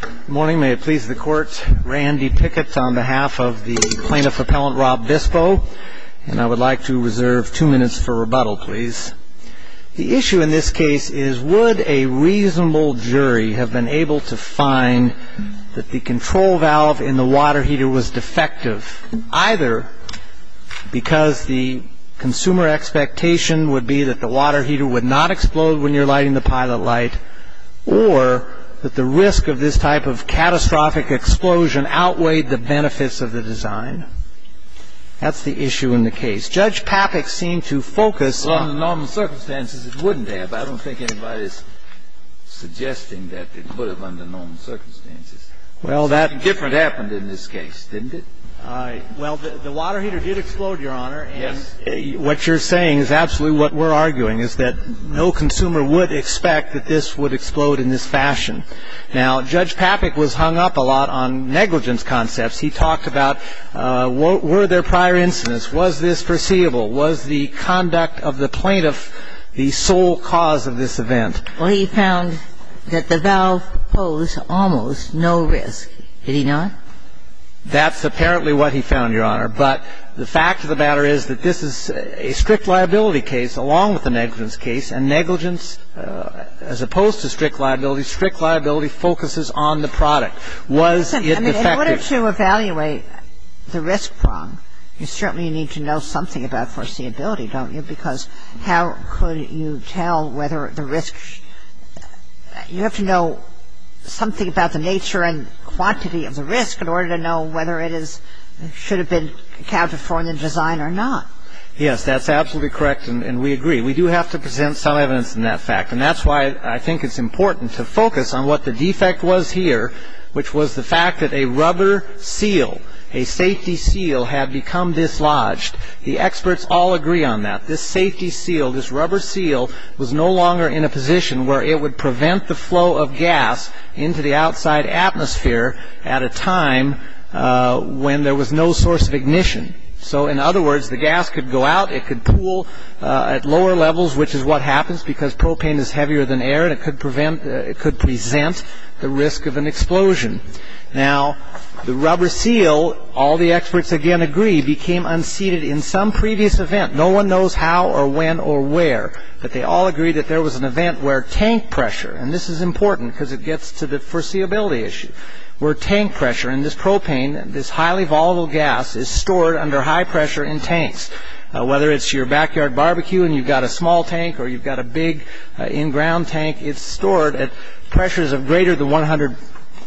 Good morning. May it please the Court, Randy Pickett on behalf of the Plaintiff Appellant Rob Bispo. And I would like to reserve two minutes for rebuttal, please. The issue in this case is would a reasonable jury have been able to find that the control valve in the water heater was defective, either because the consumer expectation would be that the water heater would not explode when you're lighting the pilot light, or that the risk of this type of catastrophic explosion outweighed the benefits of the design? That's the issue in the case. Judge Papik seemed to focus on the normal circumstances it wouldn't have. I don't think anybody's suggesting that it would have under normal circumstances. Something different happened in this case, didn't it? Well, the water heater did explode, Your Honor. Yes. What you're saying is absolutely what we're arguing, is that no consumer would expect that this would explode in this fashion. Now, Judge Papik was hung up a lot on negligence concepts. He talked about were there prior incidents? Was this foreseeable? Was the conduct of the plaintiff the sole cause of this event? Well, he found that the valve posed almost no risk. Did he not? That's apparently what he found, Your Honor. But the fact of the matter is that this is a strict liability case along with a negligence case, and negligence, as opposed to strict liability, strict liability focuses on the product. Was it defective? In order to evaluate the risk prong, you certainly need to know something about foreseeability, don't you? Because how could you tell whether the risk you have to know something about the nature and quantity of the risk in order to know whether it should have been accounted for in the design or not. Yes, that's absolutely correct, and we agree. We do have to present some evidence in that fact, and that's why I think it's important to focus on what the defect was here, which was the fact that a rubber seal, a safety seal, had become dislodged. The experts all agree on that. This safety seal, this rubber seal, was no longer in a position where it would prevent the flow of gas into the outside atmosphere at a time when there was no source of ignition. So, in other words, the gas could go out. It could pool at lower levels, which is what happens because propane is heavier than air, and it could present the risk of an explosion. Now, the rubber seal, all the experts again agree, became unseated in some previous event. No one knows how or when or where, but they all agree that there was an event where tank pressure, and this is important because it gets to the foreseeability issue, where tank pressure in this propane, this highly volatile gas, is stored under high pressure in tanks. Whether it's your backyard barbecue and you've got a small tank or you've got a big in-ground tank, it's stored at pressures of greater than 100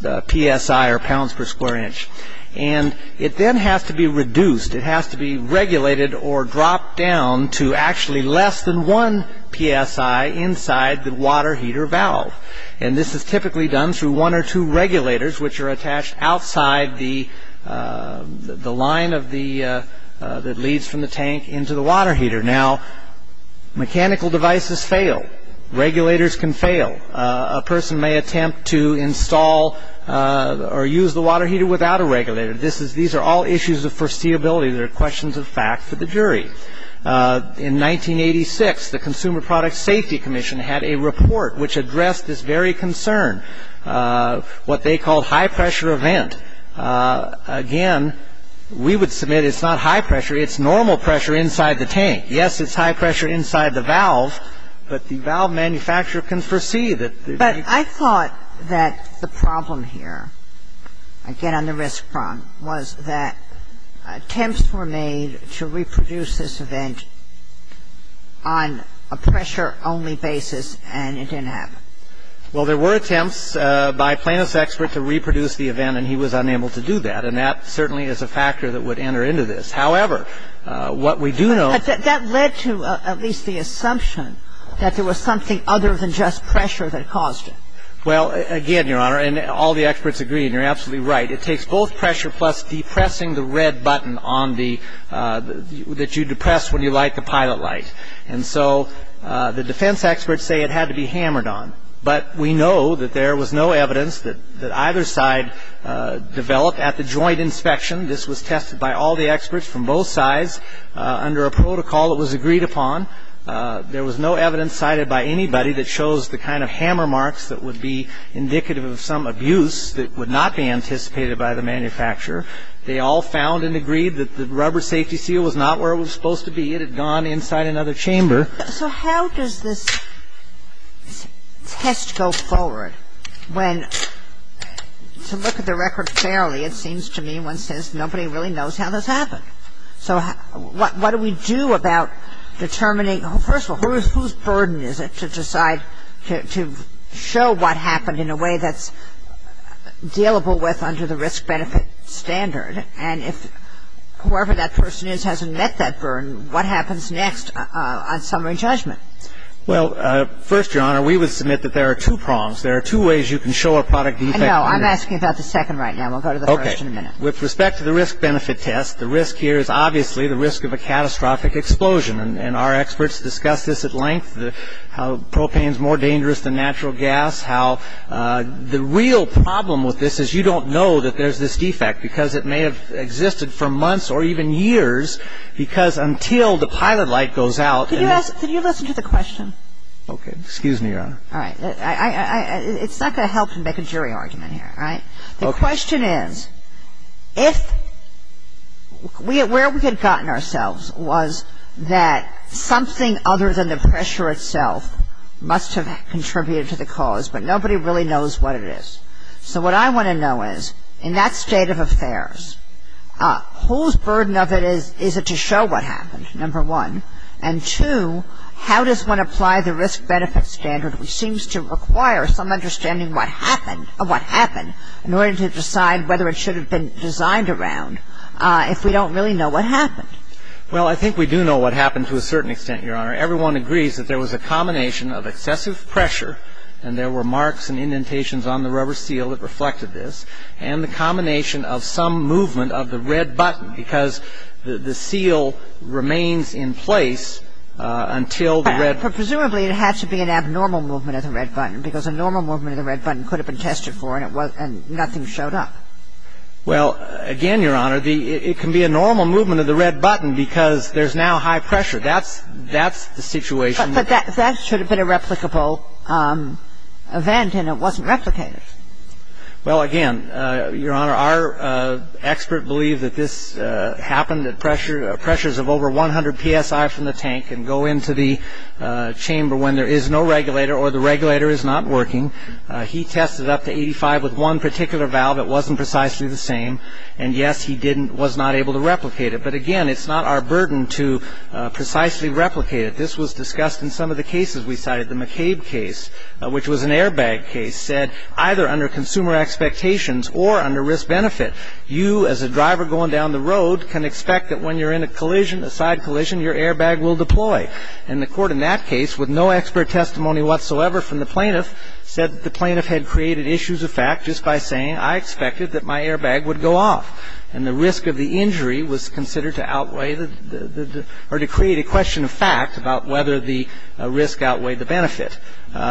psi or pounds per square inch, and it then has to be reduced. It has to be regulated or dropped down to actually less than 1 psi inside the water heater valve, and this is typically done through one or two regulators, which are attached outside the line that leads from the tank into the water heater. Now, mechanical devices fail. Regulators can fail. A person may attempt to install or use the water heater without a regulator. These are all issues of foreseeability. They're questions of fact for the jury. In 1986, the Consumer Product Safety Commission had a report which addressed this very concern, what they called high pressure event. Again, we would submit it's not high pressure. It's normal pressure inside the tank. Yes, it's high pressure inside the valve, but the valve manufacturer can foresee that. But I thought that the problem here, again on the risk front, was that attempts were made to reproduce this event on a pressure-only basis, and it didn't happen. Well, there were attempts by a plaintiff's expert to reproduce the event, and he was unable to do that, and that certainly is a factor that would enter into this. However, what we do know — But that led to at least the assumption that there was something other than just pressure that caused it. Well, again, Your Honor, and all the experts agree, and you're absolutely right, it takes both pressure plus depressing the red button that you depress when you light the pilot light. And so the defense experts say it had to be hammered on. But we know that there was no evidence that either side developed at the joint inspection. This was tested by all the experts from both sides under a protocol that was agreed upon. There was no evidence cited by anybody that shows the kind of hammer marks that would be indicative of some abuse that would not be anticipated by the manufacturer. They all found and agreed that the rubber safety seal was not where it was supposed to be. They were very happy with the seal. They were very happy with the fact that we had to have it removed and, ultimately, get it gone inside another chamber. So how does this test go forward when to look at the record fairly, it seems to me, one says nobody really knows how this happened. So what do we do about determining, first of all, whose burden is it to decide to show what happened in a way that's dealable with under the risk-benefit standard? And if whoever that person is hasn't met that burden, what happens next on summary judgment? Well, first, Your Honor, we would submit that there are two prongs. There are two ways you can show a product defect. I know. I'm asking about the second right now. We'll go to the first in a minute. Okay. With respect to the risk-benefit test, the risk here is obviously the risk of a catastrophic explosion. And our experts discuss this at length, how propane is more dangerous than natural gas, how the real problem with this is you don't know that there's this defect because it may have existed for months or even years because until the pilot light goes out and it's – Can you listen to the question? Okay. Excuse me, Your Honor. All right. It's not going to help to make a jury argument here, right? Okay. The question is, if – where we had gotten ourselves was that something other than the pressure itself must have contributed to the cause, but nobody really knows what it is. So what I want to know is, in that state of affairs, whose burden of it is it to show what happened, number one? And two, how does one apply the risk-benefit standard, which seems to require some understanding of what happened, in order to decide whether it should have been designed around if we don't really know what happened? Well, I think we do know what happened to a certain extent, Your Honor. Everyone agrees that there was a combination of excessive pressure, and there were marks and indentations on the rubber seal that reflected this, and the combination of some movement of the red button because the seal remains in place until the red – But presumably it had to be an abnormal movement of the red button because a normal movement of the red button could have been tested for, and nothing showed up. Well, again, Your Honor, it can be a normal movement of the red button because there's now high pressure. That's the situation. But that should have been a replicable event, and it wasn't replicated. Well, again, Your Honor, our expert believed that this happened at pressures of over 100 psi from the tank and go into the chamber when there is no regulator or the regulator is not working. He tested up to 85 with one particular valve. It wasn't precisely the same, and, yes, he didn't – was not able to replicate it. But, again, it's not our burden to precisely replicate it. This was discussed in some of the cases we cited. The McCabe case, which was an airbag case, said either under consumer expectations or under risk-benefit, you as a driver going down the road can expect that when you're in a collision, a side collision, your airbag will deploy. And the Court in that case, with no expert testimony whatsoever from the plaintiff, said the plaintiff had created issues of fact just by saying, I expected that my airbag would go off. And the risk of the injury was considered to outweigh the – or to create a question of fact about whether the risk outweighed the benefit.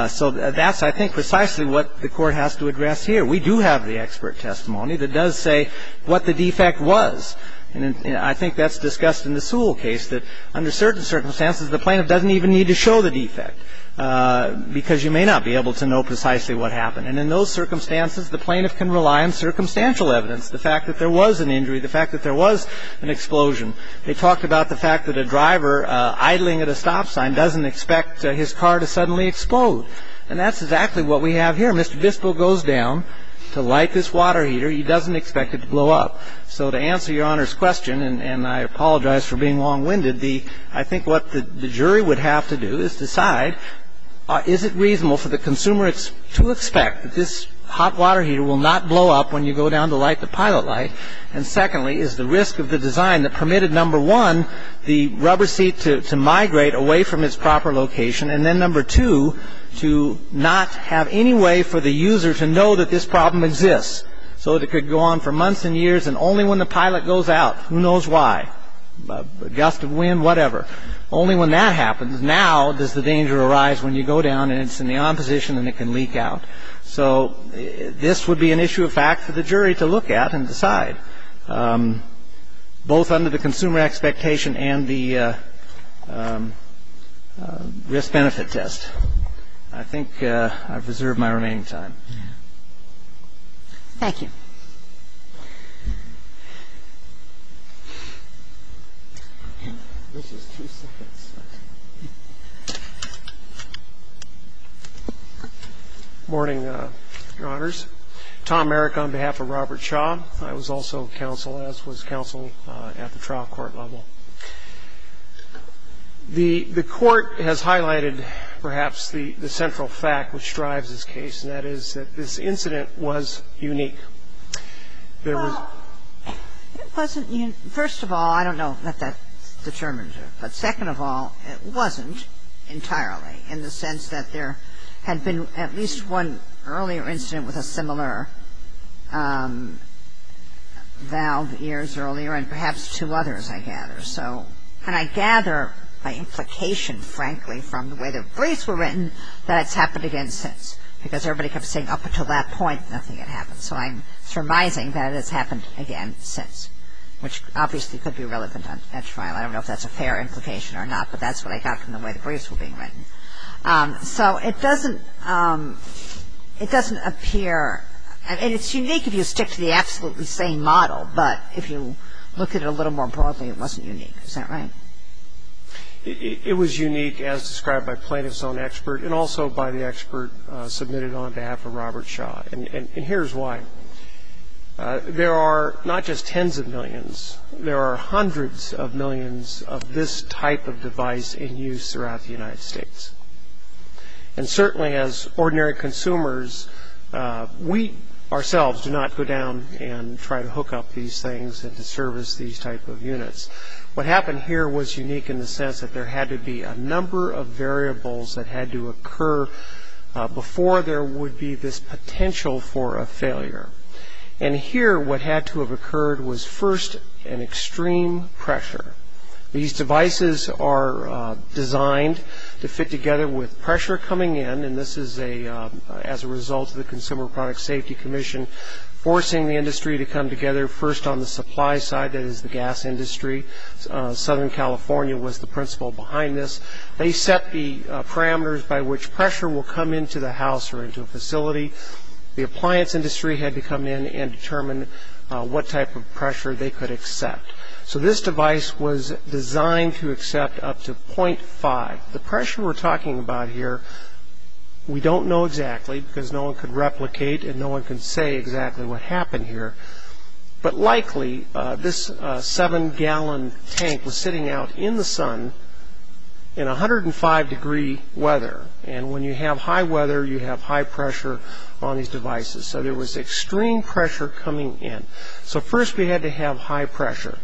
So that's, I think, precisely what the Court has to address here. We do have the expert testimony that does say what the defect was. And I think that's discussed in the Sewell case, that under certain circumstances, the plaintiff doesn't even need to show the defect because you may not be able to know precisely what happened. And in those circumstances, the plaintiff can rely on circumstantial evidence, the fact that there was an injury, the fact that there was an explosion. They talked about the fact that a driver idling at a stop sign doesn't expect his car to suddenly explode. And that's exactly what we have here. Mr. Bispo goes down to light this water heater. He doesn't expect it to blow up. So to answer Your Honor's question, and I apologize for being long-winded, I think what the jury would have to do is decide, is it reasonable for the consumer to expect that this hot water heater will not blow up when you go down to light the pilot light? And secondly, is the risk of the design that permitted, number one, the rubber seat to migrate away from its proper location, and then, number two, to not have any way for the user to know that this problem exists, so that it could go on for months and years and only when the pilot goes out, who knows why, gust of wind, whatever, only when that happens, now does the danger arise when you go down and it's in the on position and it can leak out. So this would be an issue of fact for the jury to look at and decide, both under the consumer expectation and the risk-benefit test. I think I've reserved my remaining time. Thank you. This is two seconds. Morning, Your Honors. Tom Merrick on behalf of Robert Shaw. I was also counsel, as was counsel at the trial court level. The court has highlighted, perhaps, the central fact which drives this case, and that is that this incident was unique. There was -- Well, it wasn't unique. First of all, I don't know that that determines it. But second of all, it wasn't entirely, in the sense that there had been at least one earlier incident with a similar valve years earlier, and perhaps two others, I gather. And I gather my implication, frankly, from the way the briefs were written, that it's happened again since, because everybody kept saying, up until that point, nothing had happened. So I'm surmising that it has happened again since, which obviously could be relevant at trial. I don't know if that's a fair implication or not, but that's what I got from the way the briefs were being written. So it doesn't appear, and it's unique if you stick to the absolutely same model, but if you look at it a little more broadly, it wasn't unique. Is that right? It was unique, as described by plaintiff's own expert, and also by the expert submitted on behalf of Robert Shaw. And here's why. There are not just tens of millions. There are hundreds of millions of this type of device in use throughout the United States. And certainly, as ordinary consumers, we ourselves do not go down and try to hook up these things and to service these type of units. What happened here was unique in the sense that there had to be a number of variables that had to occur And here, what had to have occurred was first an extreme pressure. These devices are designed to fit together with pressure coming in, and this is as a result of the Consumer Product Safety Commission forcing the industry to come together, first on the supply side, that is the gas industry. Southern California was the principle behind this. They set the parameters by which pressure will come into the house or into a facility. The appliance industry had to come in and determine what type of pressure they could accept. So this device was designed to accept up to 0.5. The pressure we're talking about here we don't know exactly because no one could replicate and no one could say exactly what happened here. But likely, this 7-gallon tank was sitting out in the sun in 105-degree weather. And when you have high weather, you have high pressure on these devices. So there was extreme pressure coming in. So first we had to have high pressure.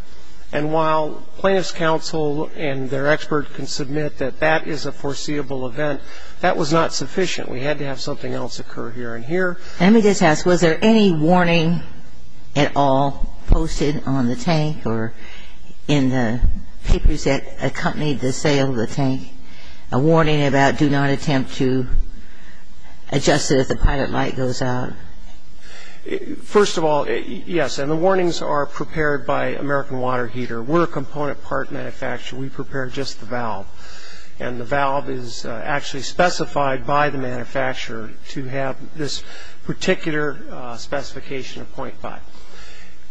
And while plaintiff's counsel and their expert can submit that that is a foreseeable event, that was not sufficient. We had to have something else occur here and here. Let me just ask, was there any warning at all posted on the tank or in the papers that accompanied the sale of the tank, a warning about do not attempt to adjust it if the pilot light goes out? First of all, yes. And the warnings are prepared by American Water Heater. We're a component part manufacturer. We prepare just the valve. And the valve is actually specified by the manufacturer to have this particular specification of 0.5.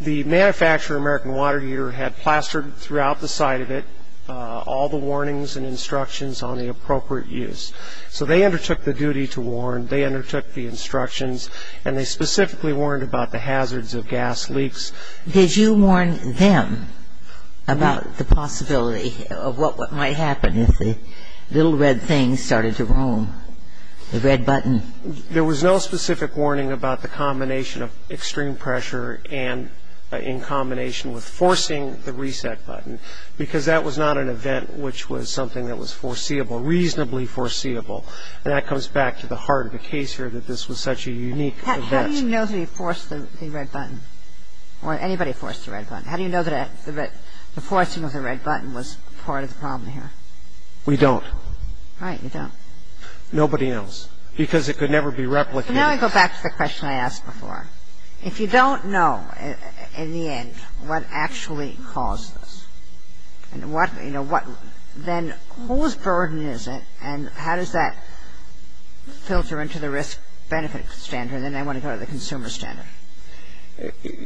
The manufacturer, American Water Heater, had plastered throughout the side of it all the warnings and instructions on the appropriate use. So they undertook the duty to warn. They undertook the instructions. And they specifically warned about the hazards of gas leaks. Did you warn them about the possibility of what might happen if the little red thing started to roam, the red button? There was no specific warning about the combination of extreme pressure and in combination with forcing the reset button because that was not an event which was something that was foreseeable, reasonably foreseeable. And that comes back to the heart of the case here that this was such a unique event. How do you know that he forced the red button or anybody forced the red button? How do you know that the forcing of the red button was part of the problem here? We don't. Right, you don't. Nobody else because it could never be replicated. So now I go back to the question I asked before. If you don't know in the end what actually caused this and what, you know, what, then whose burden is it and how does that filter into the risk-benefit standard and then I want to go to the consumer standard.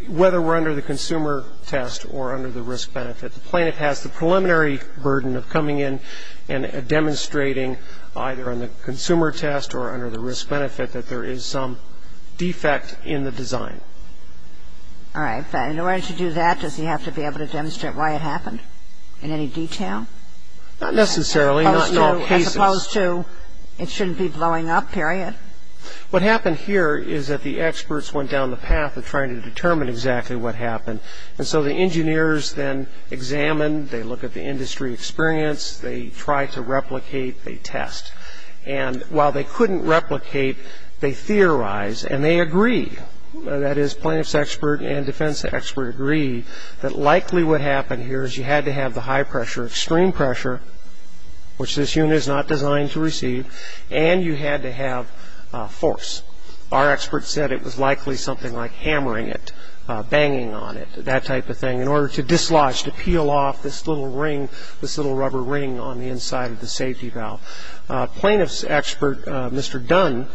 Whether we're under the consumer test or under the risk-benefit, the plaintiff has the preliminary burden of coming in and demonstrating either on the consumer test or under the risk-benefit that there is some defect in the design. All right, but in order to do that, does he have to be able to demonstrate why it happened in any detail? Not necessarily, not in all cases. As opposed to it shouldn't be blowing up, period? What happened here is that the experts went down the path of trying to determine exactly what happened and so the engineers then examine, they look at the industry experience, they try to replicate, they test. And while they couldn't replicate, they theorize and they agree, that is plaintiff's expert and defense expert agree, that likely what happened here is you had to have the high pressure, extreme pressure, which this unit is not designed to receive, and you had to have force. Our expert said it was likely something like hammering it, banging on it, that type of thing, in order to dislodge, to peel off this little ring, this little rubber ring on the inside of the safety valve. Plaintiff's expert, Mr. Dunn,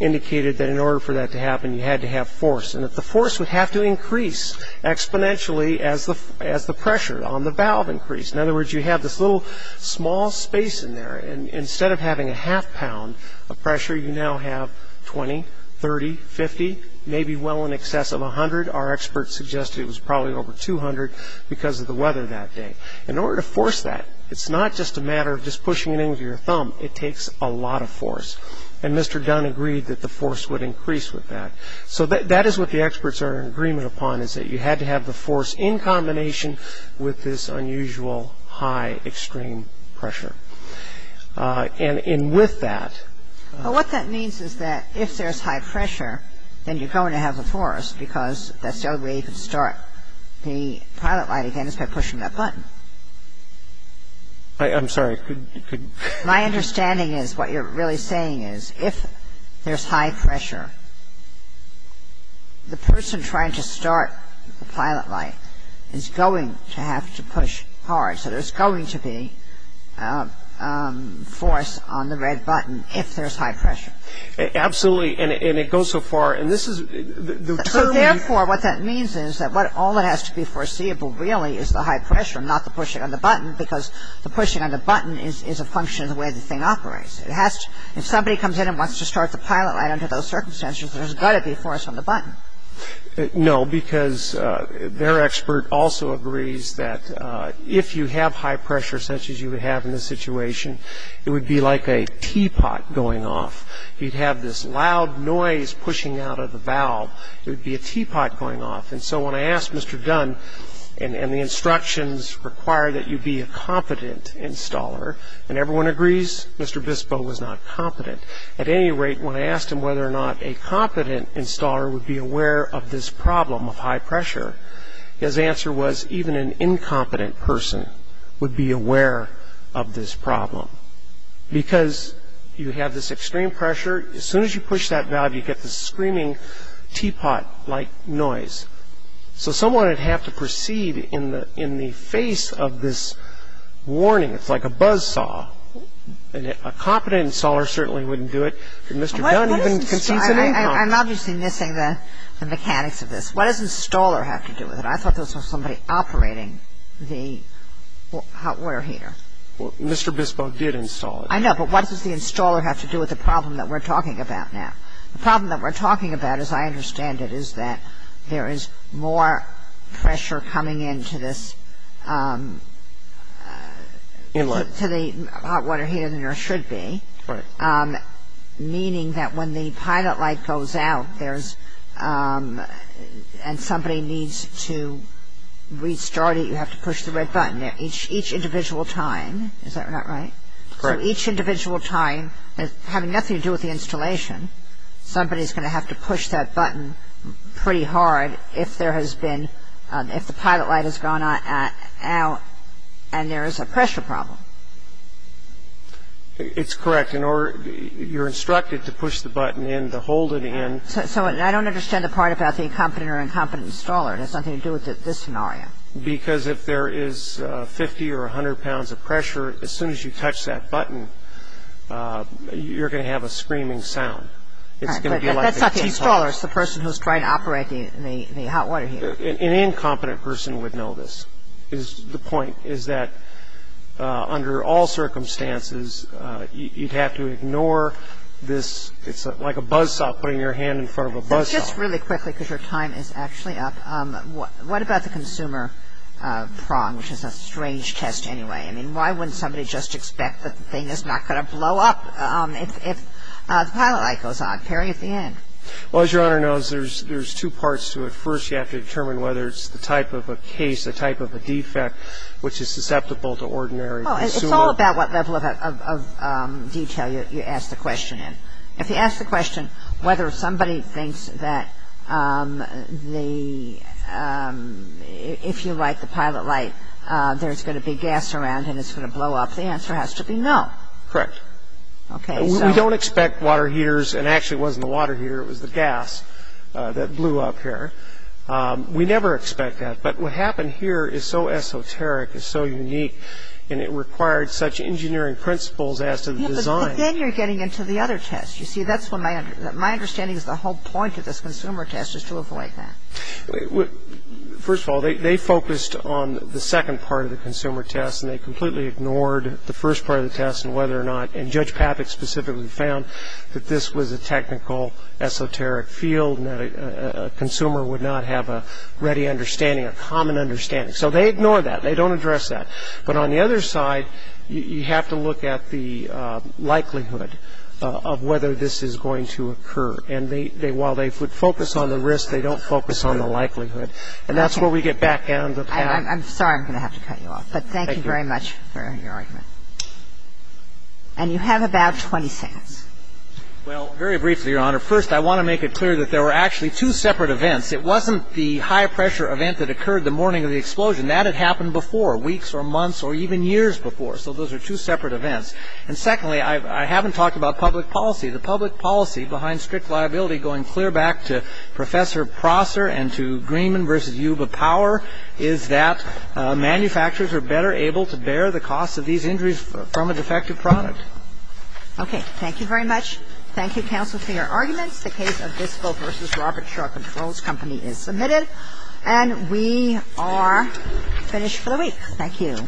indicated that in order for that to happen you had to have force and that the force would have to increase exponentially as the pressure on the valve increased. In other words, you have this little small space in there and instead of having a half pound of pressure, you now have 20, 30, 50, maybe well in excess of 100. Our expert suggested it was probably over 200 because of the weather that day. In order to force that, it's not just a matter of just pushing it in with your thumb, it takes a lot of force and Mr. Dunn agreed that the force would increase with that. So that is what the experts are in agreement upon, is that you had to have the force in combination with this unusual high extreme pressure. And with that... What that means is that if there's high pressure, then you're going to have the force because that's the only way you can start the pilot light again is by pushing that button. I'm sorry, could... My understanding is what you're really saying is if there's high pressure, the person trying to start the pilot light is going to have to push hard, so there's going to be force on the red button if there's high pressure. Absolutely, and it goes so far, and this is... So therefore, what that means is that all that has to be foreseeable really is the high pressure, not the pushing of the button, because the pushing of the button is a function of the way the thing operates. If somebody comes in and wants to start the pilot light under those circumstances, there's got to be force on the button. No, because their expert also agrees that if you have high pressure, such as you would have in this situation, it would be like a teapot going off. You'd have this loud noise pushing out of the valve. It would be a teapot going off, and so when I asked Mr. Dunn, and the instructions require that you be a competent installer, and everyone agrees Mr. Bispo was not competent. At any rate, when I asked him whether or not a competent installer would be aware of this problem of high pressure, his answer was even an incompetent person would be aware of this problem, because you have this extreme pressure. As soon as you push that valve, you get this screaming teapot-like noise. So someone would have to proceed in the face of this warning. It's like a buzzsaw. A competent installer certainly wouldn't do it. Mr. Dunn even concedes an income. I'm obviously missing the mechanics of this. What does installer have to do with it? I thought this was somebody operating the hot water heater. Mr. Bispo did install it. I know, but what does the installer have to do with the problem that we're talking about now? The problem that we're talking about, as I understand it, is that there is more pressure coming into this hot water heater than there should be. Meaning that when the pilot light goes out and somebody needs to restart it, you have to push the red button. Each individual time, is that not right? Correct. So each individual time, having nothing to do with the installation, somebody's going to have to push that button pretty hard if the pilot light has gone out and there is a pressure problem. It's correct. You're instructed to push the button in, to hold it in. So I don't understand the part about the competent or incompetent installer. It has nothing to do with this scenario. Because if there is 50 or 100 pounds of pressure, as soon as you touch that button, you're going to have a screaming sound. That's not the installer. It's the person who's trying to operate the hot water heater. An incompetent person would know this. The point is that under all circumstances, you'd have to ignore this. It's like a buzzsaw putting your hand in front of a buzzsaw. Just really quickly, because your time is actually up, what about the consumer prong, which is a strange test anyway? I mean, why wouldn't somebody just expect that the thing is not going to blow up if the pilot light goes on? Perry, at the end. Well, as Your Honor knows, there's two parts to it. First, you have to determine whether it's the type of a case, the type of a defect, which is susceptible to ordinary consumer. Well, it's all about what level of detail you ask the question in. If you ask the question whether somebody thinks that if you light the pilot light, there's going to be gas around and it's going to blow up, the answer has to be no. Correct. We don't expect water heaters, and actually it wasn't the water heater, it was the gas that blew up here. We never expect that. But what happened here is so esoteric, is so unique, and it required such engineering principles as to the design. Yeah, but then you're getting into the other test. You see, that's what my understanding is, the whole point of this consumer test is to avoid that. First of all, they focused on the second part of the consumer test, and they completely ignored the first part of the test and whether or not, and Judge Patik specifically found that this was a technical esoteric field and that a consumer would not have a ready understanding, a common understanding. So they ignored that. They don't address that. But on the other side, you have to look at the likelihood of whether this is going to occur. And while they would focus on the risk, they don't focus on the likelihood. And that's where we get back down to the patent. I'm sorry I'm going to have to cut you off, but thank you very much for your argument. And you have about 20 seconds. Well, very briefly, Your Honor. First, I want to make it clear that there were actually two separate events. It wasn't the high-pressure event that occurred the morning of the explosion. That had happened before, weeks or months or even years before. So those are two separate events. And secondly, I haven't talked about public policy. The public policy behind strict liability, going clear back to Professor Prosser and to Greenman v. Yuba Power, is that manufacturers are better able to bear the cost of these injuries from a defective product. Okay. Thank you very much. Thank you, counsel, for your arguments. The case of Visco v. Robert Shaw Controls Company is submitted. And we are finished for the week. Thank you.